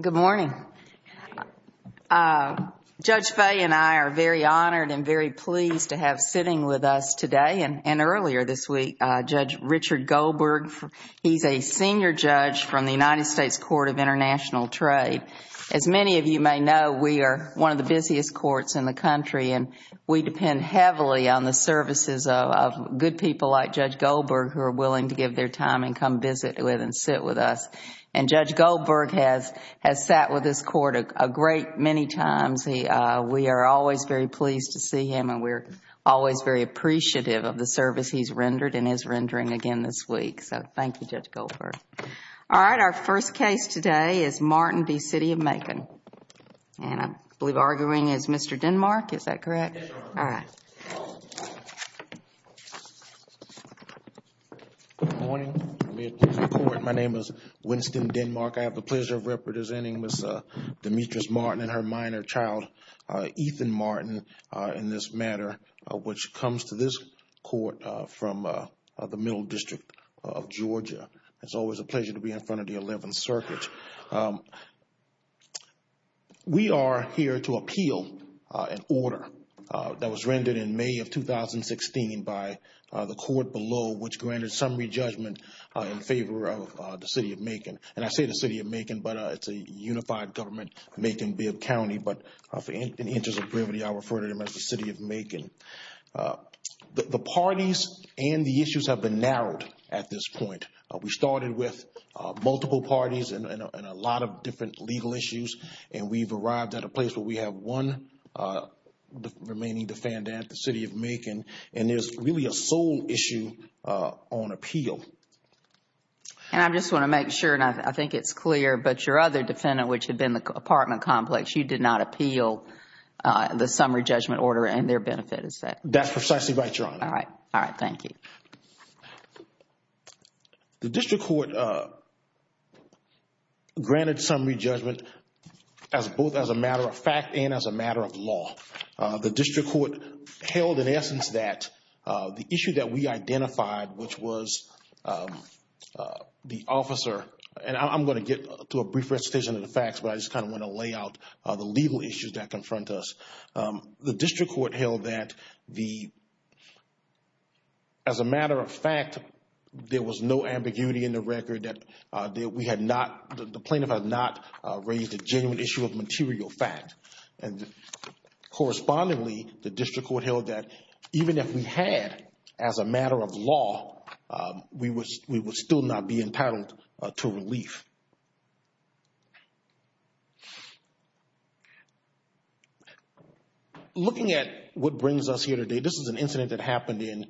Good morning. Judge Fay and I are very honored and very pleased to have sitting with us today and earlier this week Judge Richard Goldberg. He's a senior judge from the United States Court of International Trade. As many of you may know, we are one of the busiest courts in the country and we depend heavily on the services of good people like Judge Goldberg who are willing to give their time and come visit with and sit with us. And Judge Goldberg has sat with this court a great many times. We are always very pleased to see him and we're always very appreciative of the service he's rendered and is rendering again this week. So thank you Judge Goldberg. All right, our first case today is Martin v. City of Macon. And I believe arguing is Good morning. My name is Winston Denmark. I have the pleasure of representing Ms. Demetrice Martin and her minor child, Ethan Martin, in this matter which comes to this court from the Middle District of Georgia. It's always a pleasure to be in front of the 11 circuits. We are here to appeal an order that was rendered in May of 2016 by the court below which granted summary judgment in favor of the City of Macon. And I say the City of Macon but it's a unified government, Macon-Bibb County, but in the interest of brevity I refer to them as the City of Macon. The parties and the issues have been narrowed at this point. We started with multiple parties and a lot of different legal issues and we've arrived at a place where we have one remaining defendant, the City of Macon, and there's really a sole issue on appeal. And I just want to make sure and I think it's clear, but your other defendant which had been the apartment complex, you did not appeal the summary judgment order and their benefit is set. That's precisely right, Your Honor. All right. All right. Thank you. The district court granted summary judgment both as a matter of fact and as a matter of law. The district court held in essence that the issue that we identified which was the officer and I'm going to get to a brief recitation of the facts but I just kind of want to lay out the legal issues that confront us. The district court held that the, as a matter of fact, there was no ambiguity in the record that we had not, the plaintiff had not raised a genuine issue of material fact. And correspondingly, the district court held that even if we had as a matter of law, we would still not be entitled to relief. Looking at what brings us here today, this is an incident that happened in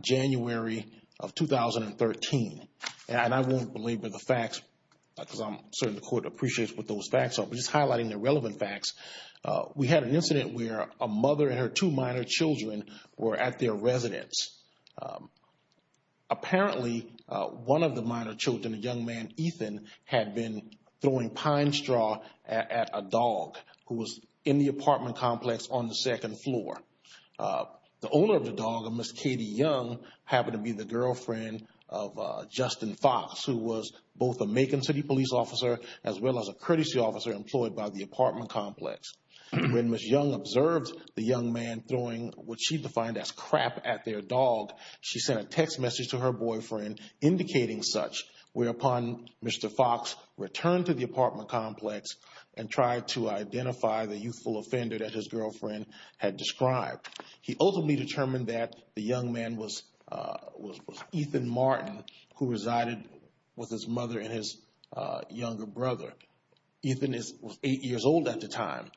January of 2013. And I won't belabor the facts because I'm certain the court appreciates what those facts are, but just highlighting the relevant facts. We had an incident where a mother and her two minor children were at their residence. Apparently, one of the minor children, a young man, Ethan, had been throwing pine straw at a dog who was in the apartment complex on the second floor. The owner of the dog, a Miss Katie Young, happened to be the girlfriend of Justin Fox, who was both a Macon City police officer as well as a courtesy officer employed by the apartment complex. When Miss Young observed the young man throwing what she defined as crap at their dog, she sent a text message to her boyfriend indicating such, whereupon Mr. Fox returned to the apartment complex and tried to identify the youthful offender that his girlfriend had described. He ultimately determined that the young man was Ethan Martin, who resided with his mother and his younger brother. Ethan was eight years old at the home.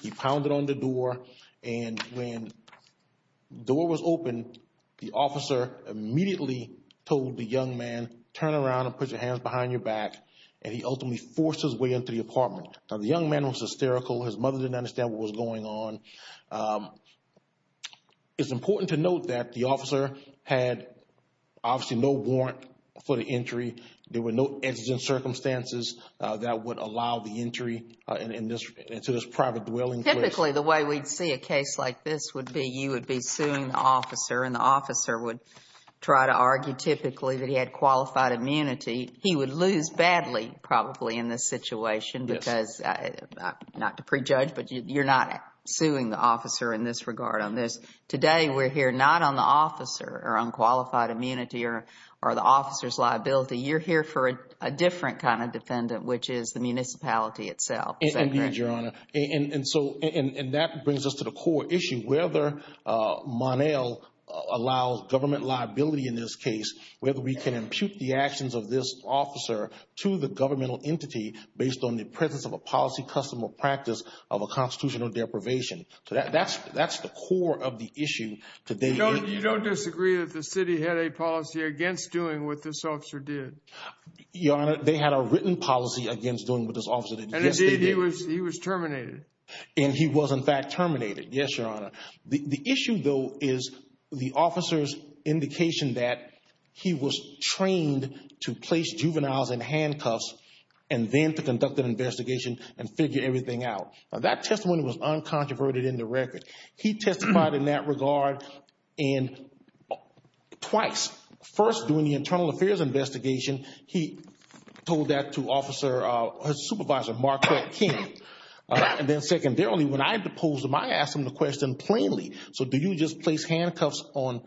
He pounded on the door, and when the door was open, the officer immediately told the young man, turn around and put your hands behind your back. And he ultimately forced his way into the apartment. Now, the young man was hysterical. His mother didn't understand what was going on. It's important to note that the officer had obviously no warrant for the entry. There were no exigent circumstances that would allow the entry into this private dwelling place. Typically, the way we'd see a case like this would be you would be suing the officer, and the officer would try to argue typically that he had qualified immunity. He would lose badly probably in this situation because, not to prejudge, but you're not suing the officer in this regard on this. Today, we're here not on the officer or on qualified immunity or the officer's liability. You're here for a different kind of defendant, which is the municipality itself. Indeed, Your Honor. And that brings us to the core issue, whether Mon-El allows government liability in this case, whether we can impute the actions of this officer to the governmental entity based on the presence of a policy custom or practice of a constitutional deprivation. That's the core of the issue today. You don't disagree that the city had a policy against doing what this officer did? Your Honor, they had a written policy against doing what this officer did. And indeed, he was terminated. And he was, in fact, terminated. Yes, Your Honor. The issue, though, is the officer's indication that he was trained to place juveniles in handcuffs and then to conduct an investigation and figure everything out. That testimony was uncontroverted in the record. He testified in that regard twice. First, during the internal affairs investigation, he told that to his supervisor, Marquette King. And then secondarily, when I had to pose him, I asked him the question plainly. So do you just place handcuffs on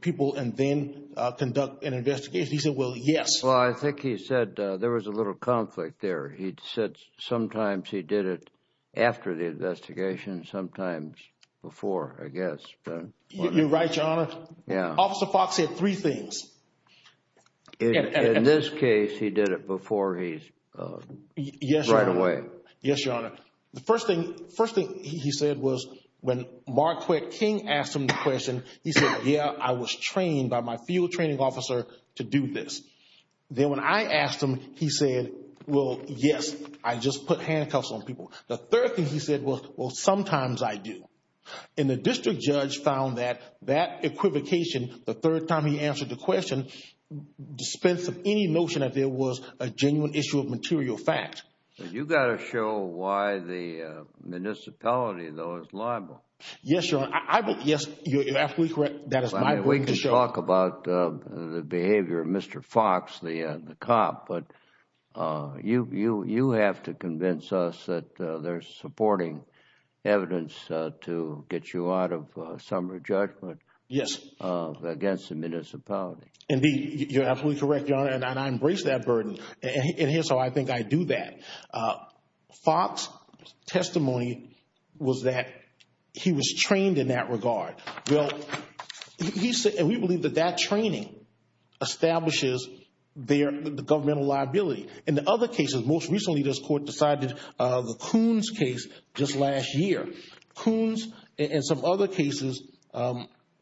people and then conduct an investigation? He said, well, yes. Well, I think he said there was a little conflict there. He said sometimes he did it after the investigation, I guess. You're right, Your Honor. Officer Fox said three things. In this case, he did it before he's right away. Yes, Your Honor. The first thing he said was when Marquette King asked him the question, he said, yeah, I was trained by my field training officer to do this. Then when I asked him, he said, well, yes, I just put handcuffs on people. The third thing he said was, well, sometimes I do. And the district judge found that that equivocation, the third time he answered the question, dispense of any notion that there was a genuine issue of material fact. You've got to show why the municipality, though, is liable. Yes, Your Honor. Yes, you're absolutely correct. That is my point to show. We can talk about the behavior of Mr. Fox, the cop, but you have to convince us that they're supporting evidence to get you out of summary judgment against the municipality. Indeed, you're absolutely correct, Your Honor, and I embrace that burden. And here's how I think I do that. Fox's testimony was that he was trained in that regard. Well, we believe that that training establishes the governmental liability. In the other cases, most recently this court decided the Coons case just last year. Coons and some other cases were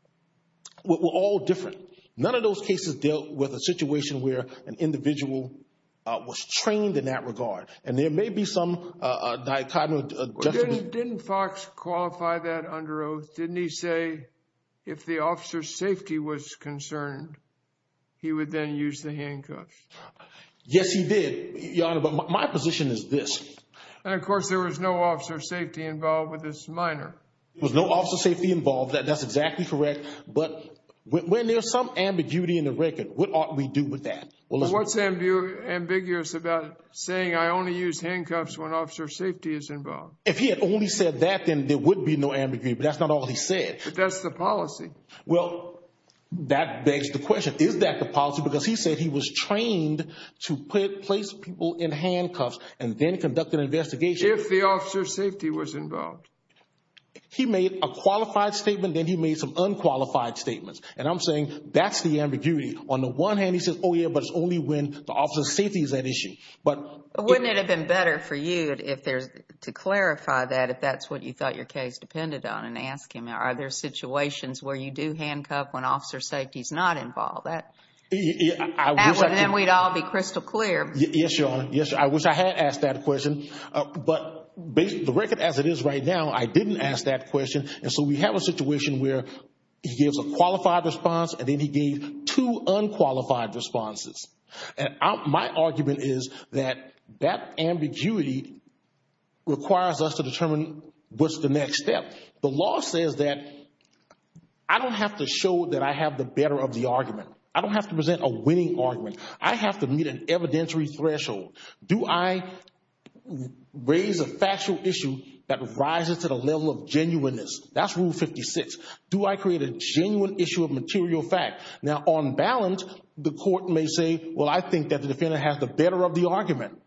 all different. None of those cases dealt with a situation where an individual was trained in that regard. And there may be some dichotomy. Didn't Fox qualify that under oath? Didn't he say if the officer's safety was concerned, he would then use the handcuffs? Yes, he did, Your Honor, but my position is this. And, of course, there was no officer's safety involved with this minor. There was no officer's safety involved. That's exactly correct. But when there's some ambiguity in the record, what ought we do with that? What's ambiguous about saying I only use handcuffs when officer's safety is involved? If he had only said that, then there would be no ambiguity, but that's not all he said. But that's the policy. Well, that begs the question. Is that the policy? Because he said he was trained to place people in handcuffs and then conduct an investigation. If the officer's safety was involved. He made a qualified statement, then he made some unqualified statements. And I'm saying that's the ambiguity. On the one hand, he says, oh, yeah, but it's only when the officer's safety is at issue. But wouldn't it have been better for you to clarify that if that's what you thought your case depended on and ask him, are there situations where you do handcuff when officer's safety is not involved? Then we'd all be crystal clear. Yes, Your Honor. Yes, I wish I had asked that question. But the record as it is right now, I didn't ask that question. And so we have a situation where he gives a qualified response and then he gave two unqualified responses. And my argument is that that ambiguity requires us to determine what's the next step. The law says that I don't have to show that I have the better of the argument. I don't have to present a winning argument. I have to meet an evidentiary threshold. Do I raise a factual issue that rises to the level of genuineness? That's Rule 56. Do I create a genuine issue of material fact? Now, on balance, the court may say, well, I think that the defendant has the better of the argument.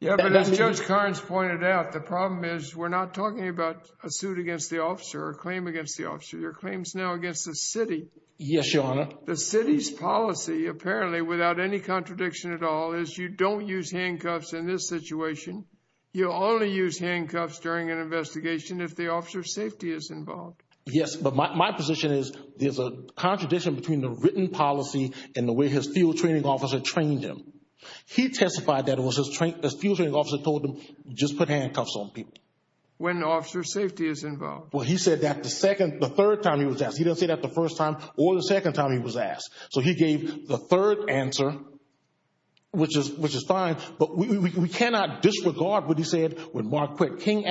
Yeah, but as Judge Carnes pointed out, the problem is we're not talking about a suit against the officer or a claim against the officer. They're claims now against the city. Yes, Your Honor. The city's policy, apparently, without any contradiction at all, is you don't use handcuffs in this situation. You only use handcuffs during an investigation if the officer's safety is involved. Yes, but my position is there's a contradiction between the written policy and the way his field training officer trained him. He testified that it was his field training officer that told him, just put handcuffs on people. When the officer's safety is involved. Well, he said that the third time he was asked. He didn't say that the first time or the second time he was asked. So he gave the third answer, which is fine, but we cannot disregard what he said when I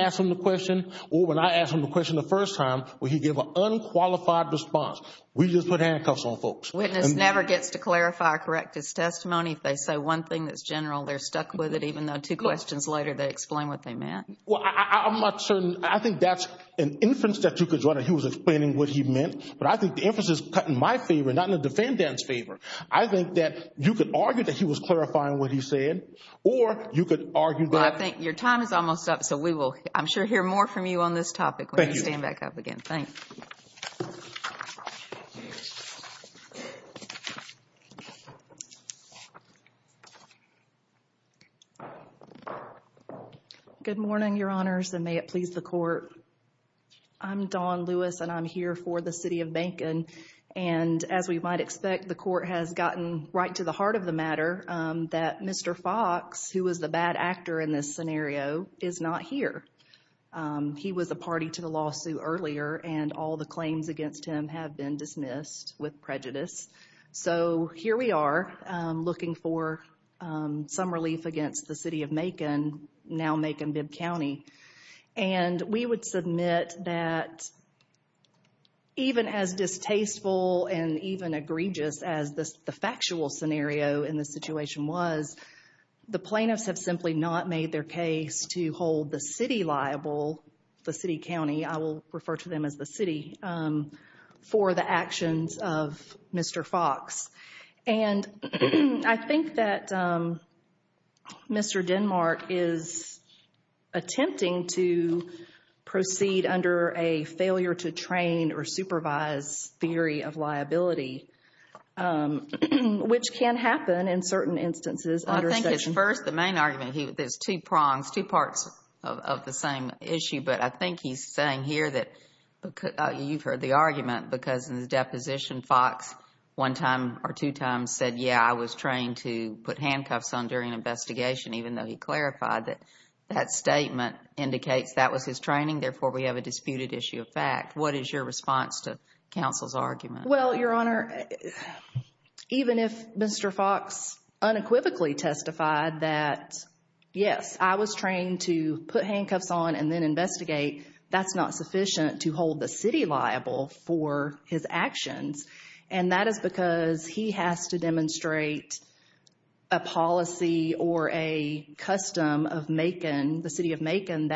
asked him the question the first time where he gave an unqualified response. We just put handcuffs on folks. Witness never gets to clarify or correct his testimony. If they say one thing that's general, they're stuck with it, even though two questions later they explain what they meant. Well, I'm not certain. I think that's an inference that you could run. He was explaining what he meant, but I think the inference is cut in my favor, not in the defendant's favor. I think that you could argue that he was clarifying what he said, or you could argue that. Well, I think your time is almost up, so we will, I'm sure, hear more from you on this topic when you stand back up again. Thank you. Good morning, Your Honors, and may it please the Court. I'm Dawn Lewis, and I'm here for the city of Beacon. And as we might expect, the Court has gotten right to the heart of the matter that Mr. Fox, who was the bad actor in this scenario, is not here. He was a party to the lawsuit earlier, and all the claims against him have been dismissed with prejudice. So, here we are, looking for some relief against the city of Macon, now Macon-Bibb County. And we would submit that even as distasteful and even egregious as the factual scenario in this situation was, the plaintiffs have simply not made their case to hold the city liable, the city county, I will refer to them as the city, for the actions of Mr. Fox. And I think that Mr. Denmark is attempting to proceed under a failure to train or supervise theory of liability, which can happen in certain instances. I think at first, the main argument, there's two prongs, two parts of the same issue, but I think he's saying here that, you've heard the argument, because in the deposition, Fox one time or two times said, yeah, I was trained to put handcuffs on during an investigation, even though he clarified that that statement indicates that was his training, therefore we have a disputed issue of fact. What is your response to counsel's argument? Well, Your Honor, even if Mr. Fox unequivocally testified that, yes, I was trained to put handcuffs on and then investigate, that's not sufficient to hold the city liable for his actions. And that is because he has to demonstrate a policy or a custom of Macon, the city of And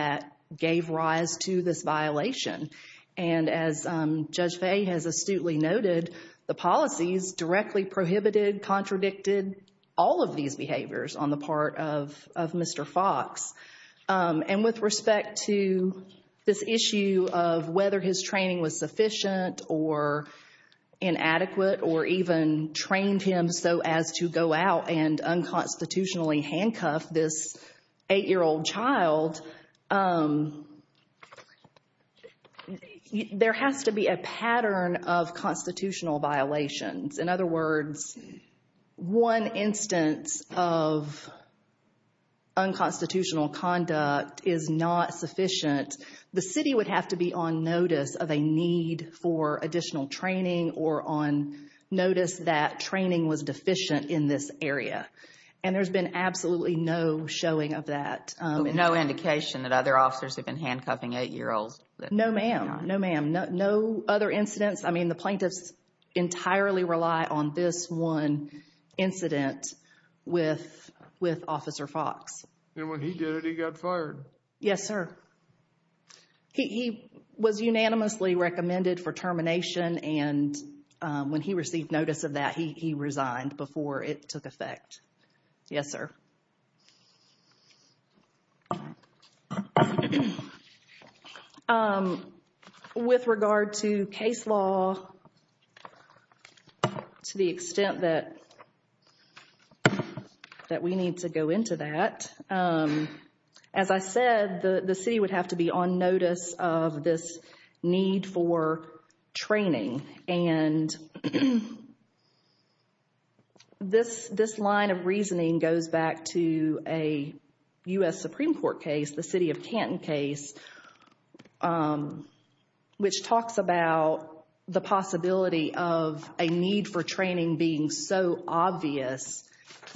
as Judge Faye has astutely noted, the policies directly prohibited, contradicted all of these behaviors on the part of Mr. Fox. And with respect to this issue of whether his training was sufficient or inadequate or even trained him so as to go out and unconstitutionally handcuff this eight-year-old child, there has to be a pattern of constitutional violations. In other words, one instance of unconstitutional conduct is not sufficient. The city would have to be on notice of a need for additional training or on notice that training was deficient in this area. And there's been absolutely no showing of that. No indication that other officers have been handcuffing eight-year-olds? No, ma'am. No, ma'am. No other incidents. I mean, the plaintiffs entirely rely on this one incident with Officer Fox. And when he did it, he got fired? Yes, sir. He was unanimously recommended for termination, and when he received notice of that, he resigned before it took effect. Yes, sir. With regard to case law, to the extent that we need to go into that, as I said, the city would have to be on notice of this need for training. And this line of reasoning goes back to a U.S. Supreme Court case, the city of Canton case, which talks about the possibility of a need for training being so obvious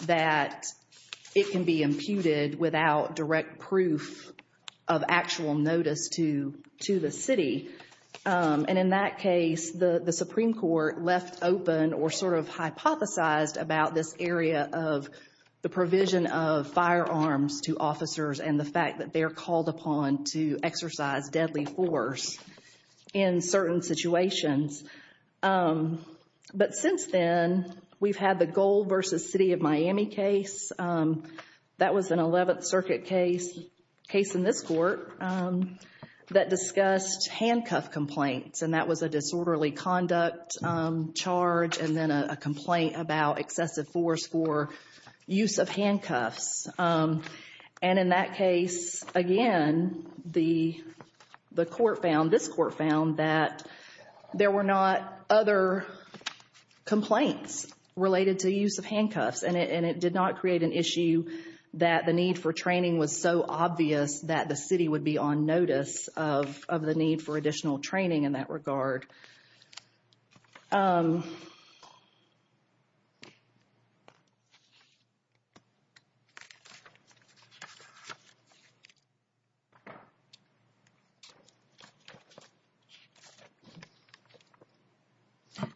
that it can be imputed without direct proof of actual notice to the city. And in that case, the Supreme Court left open or sort of hypothesized about this area of the provision of firearms to officers and the fact that they're called upon to exercise deadly force in certain situations. But since then, we've had the Gold v. City of Miami case. That was an 11th Circuit case, a case in this court, that discussed handcuff complaints, and that was a disorderly conduct charge and then a complaint about excessive force for use of handcuffs. And in that case, again, the court found, this court found, that there were not other complaints related to use of handcuffs, and it did not create an issue that the need for training was so obvious that the city would be on notice of the need for additional training in that regard.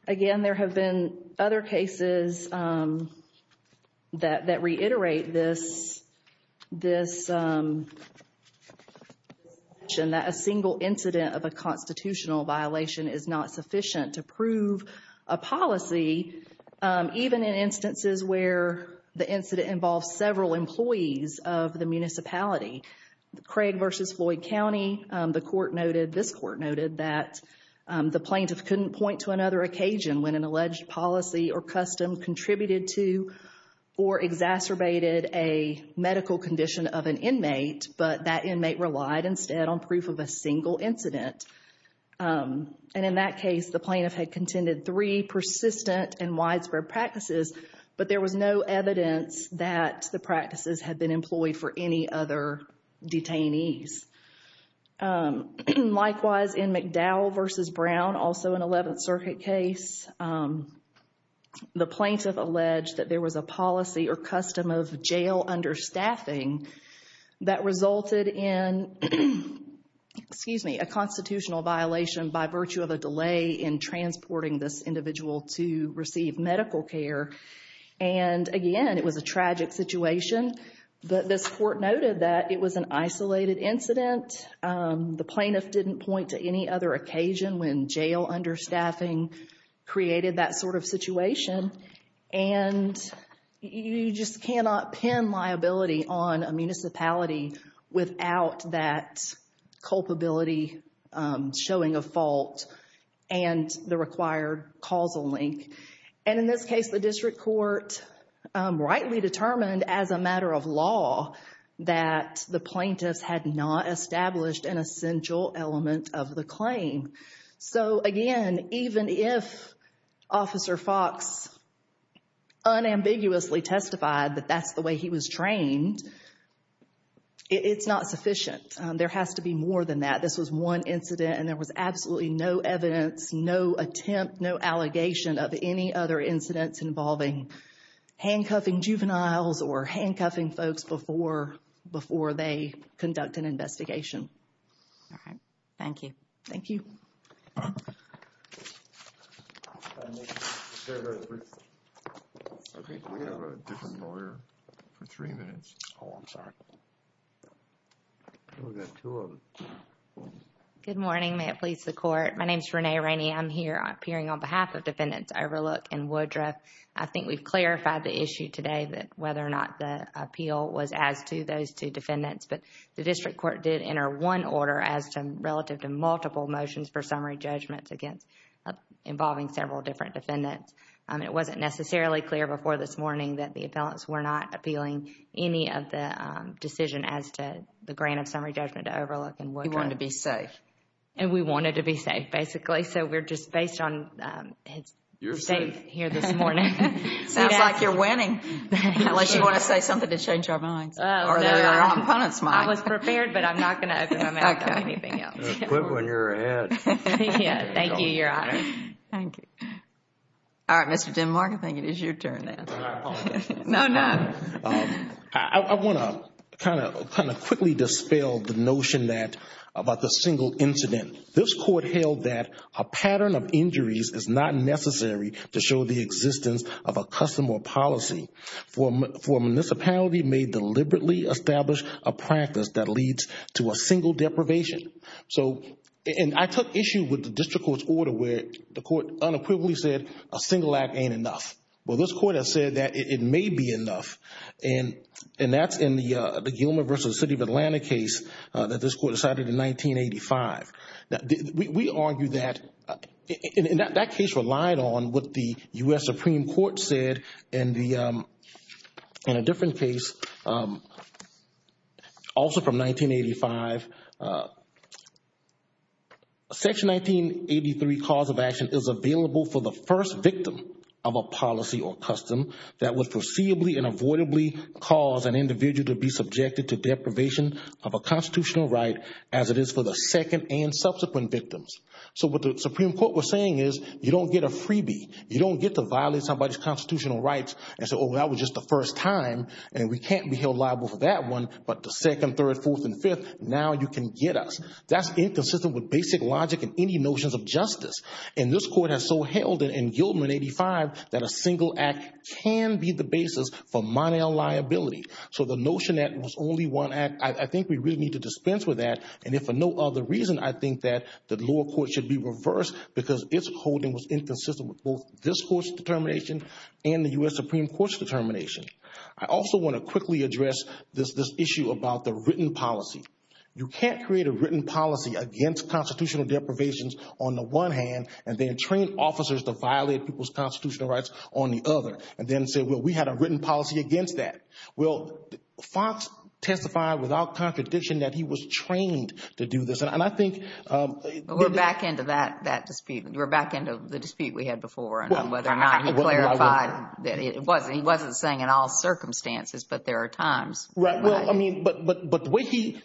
Again, there have been other cases that reiterate this, this notion that a single incident of a constitutional violation is not sufficient to prove a policy, even in instances where the incident involves several employees of the municipality. Craig v. Floyd County, the court noted, this court noted, that the plaintiff couldn't point to another occasion when an alleged policy or custom contributed to or exacerbated a medical condition of an inmate, but that inmate relied instead on proof of a single incident. And in that case, the plaintiff had contended three persistent and widespread practices, but there was no evidence that the practices had been employed for any other detainees. Likewise, in McDowell v. Brown, also an 11th Circuit case, the plaintiff alleged that there was a policy or custom of jail understaffing that resulted in a constitutional violation by virtue of a delay in transporting this individual to receive medical care. And again, it was a tragic situation. This court noted that it was an isolated incident. The plaintiff didn't point to any other occasion when jail understaffing created that sort of situation. And you just cannot pin liability on a municipality without that culpability showing a fault and the required causal link. And in this case, the district court rightly determined as a matter of law that the plaintiffs had not established an essential element of the claim. So again, even if Officer Fox unambiguously testified that that's the way he was trained, it's not sufficient. There has to be more than that. This was one incident and there was absolutely no evidence, no attempt, no allegation of any other incidents involving handcuffing juveniles or handcuffing folks before they conduct an investigation. All right. Thank you. Thank you. Good morning. May it please the Court. My name is Renee Rainey. I'm here appearing on behalf of Defendants Overlook and Woodruff. I think we've clarified the issue today that whether or not the appeal was as to those two defendants. But the district court did enter one order as to relative to multiple motions for summary judgments involving several different defendants. It wasn't necessarily clear before this morning that the appellants were not appealing any of the decision as to the grant of summary judgment to Overlook and Woodruff. You wanted to be safe. And we wanted to be safe, basically. So we're just based on it's safe here this morning. Sounds like you're winning. Unless you want to say something to change our minds. I was prepared, but I'm not going to open my mouth to anything else. Quit when you're ahead. Thank you, Your Honor. Thank you. All right. Mr. Denmark, I think it is your turn now. Can I apologize? No, no. I want to kind of quickly dispel the notion that about the single incident. This Court held that a pattern of injuries is not necessary to show the existence of a custom or policy. For a municipality may deliberately establish a practice that leads to a single deprivation. And I took issue with the District Court's order where the Court unequivocally said a single act ain't enough. Well, this Court has said that it may be enough. And that's in the Gilman v. City of Atlanta case that this Court decided in 1985. We argue that that case relied on what the U.S. Supreme Court said in a different case also from 1985. Section 1983 cause of action is available for the first victim of a policy or custom that would foreseeably and avoidably cause an individual to be subjected to deprivation of a constitutional right as it is for the second and subsequent victims. So what the Supreme Court was saying is you don't get a freebie. You don't get to violate somebody's constitutional rights and say, oh, that was just the first time. And we can't be held liable for that one. But the second, third, fourth, and fifth, now you can get us. That's inconsistent with basic logic and any notions of justice. And this Court has so held it in Gilman, 1985 that a single act can be the basis for money on liability. So the notion that it was only one act, I think we really need to dispense with that. And if for no other reason, I think that the lower court should be responsible for both this Court's determination and the U.S. Supreme Court's determination. I also want to quickly address this issue about the written policy. You can't create a written policy against constitutional deprivations on the one hand and then train officers to violate people's constitutional rights on the other and then say, well, we had a written policy against that. Well, Fox testified without contradiction that he was trained to do this. We're back into that dispute. We're back into the dispute we had before and whether or not he clarified that it wasn't. He wasn't saying in all circumstances, but there are times. Right. Well, I mean, but the way he,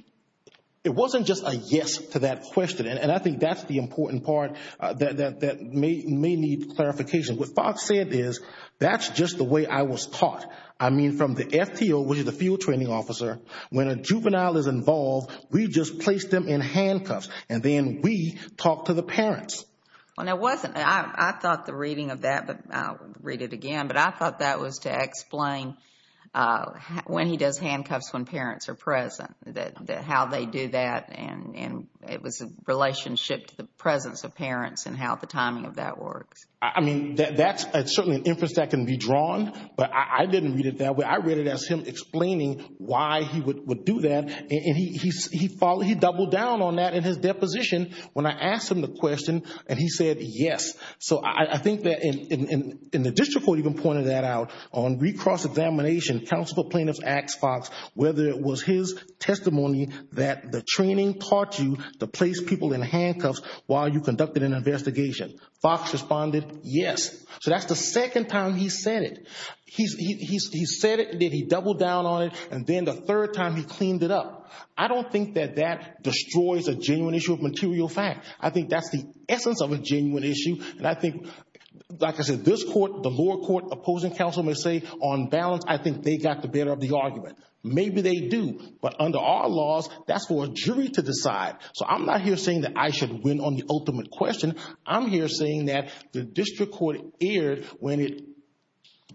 it wasn't just a yes to that question. And I think that's the important part that may need clarification. What Fox said is, that's just the way I was taught. I mean, from the FTO, which is the field training officer, when a juvenile is involved, we just place them in handcuffs, and then we talk to the parents. Well, no, it wasn't. I thought the reading of that, but I'll read it again, but I thought that was to explain when he does handcuffs when parents are present, that how they do that, and it was a relationship to the presence of parents and how the timing of that works. I mean, that's certainly an inference that can be drawn, but I didn't read it that way. I read it as him explaining why he would do that, and he doubled down on that in his deposition when I asked him the question, and he said, yes. So I think that in the district court even pointed that out. On recross examination, counsel for plaintiffs asked Fox whether it was his testimony that the training taught you to place people in handcuffs while you conducted an investigation. Fox responded, yes. So that's the second time he said it. He said it, and then he doubled down on it, and then the third time he cleaned it up. I don't think that that destroys a genuine issue of material fact. I think that's the essence of a genuine issue, and I think, like I said, this court, the lower court opposing counsel may say on balance, I think they got the better of the argument. Maybe they do, but under our laws, that's for a jury to decide. So I'm not here saying that I should win on the ultimate question. I'm here saying that the district court erred when it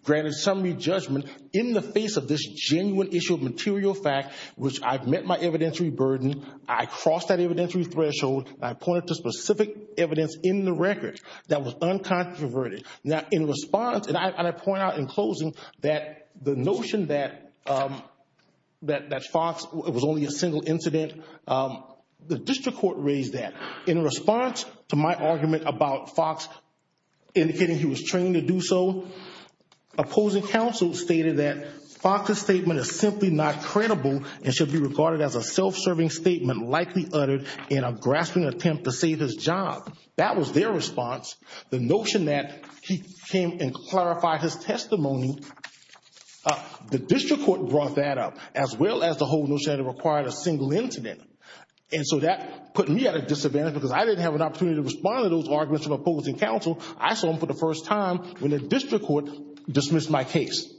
granted summary judgment in the face of this genuine issue of material fact, which I've met my evidentiary burden. I crossed that evidentiary threshold. I pointed to specific evidence in the record that was uncontroverted. Now, in response, and I point out in closing that the notion that Fox, it was only a single incident, the district court raised that. In response to my argument about Fox indicating he was trained to do so, opposing counsel stated that Fox's statement is simply not credible and should be regarded as a self-serving statement, likely uttered in a grasping attempt to save his job. That was their response. The notion that he came and clarified his testimony, the district court brought that up, as well as the whole notion that it required a single incident. And so that put me at a disadvantage because I didn't have an opportunity to respond to those arguments from opposing counsel. I saw them for the first time when the district court dismissed my case.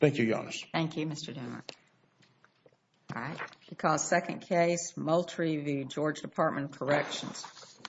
Thank you, Your Honor. Thank you, Mr. Dunlap. All right. We call the second case, Moultrie v. George Department of Corrections.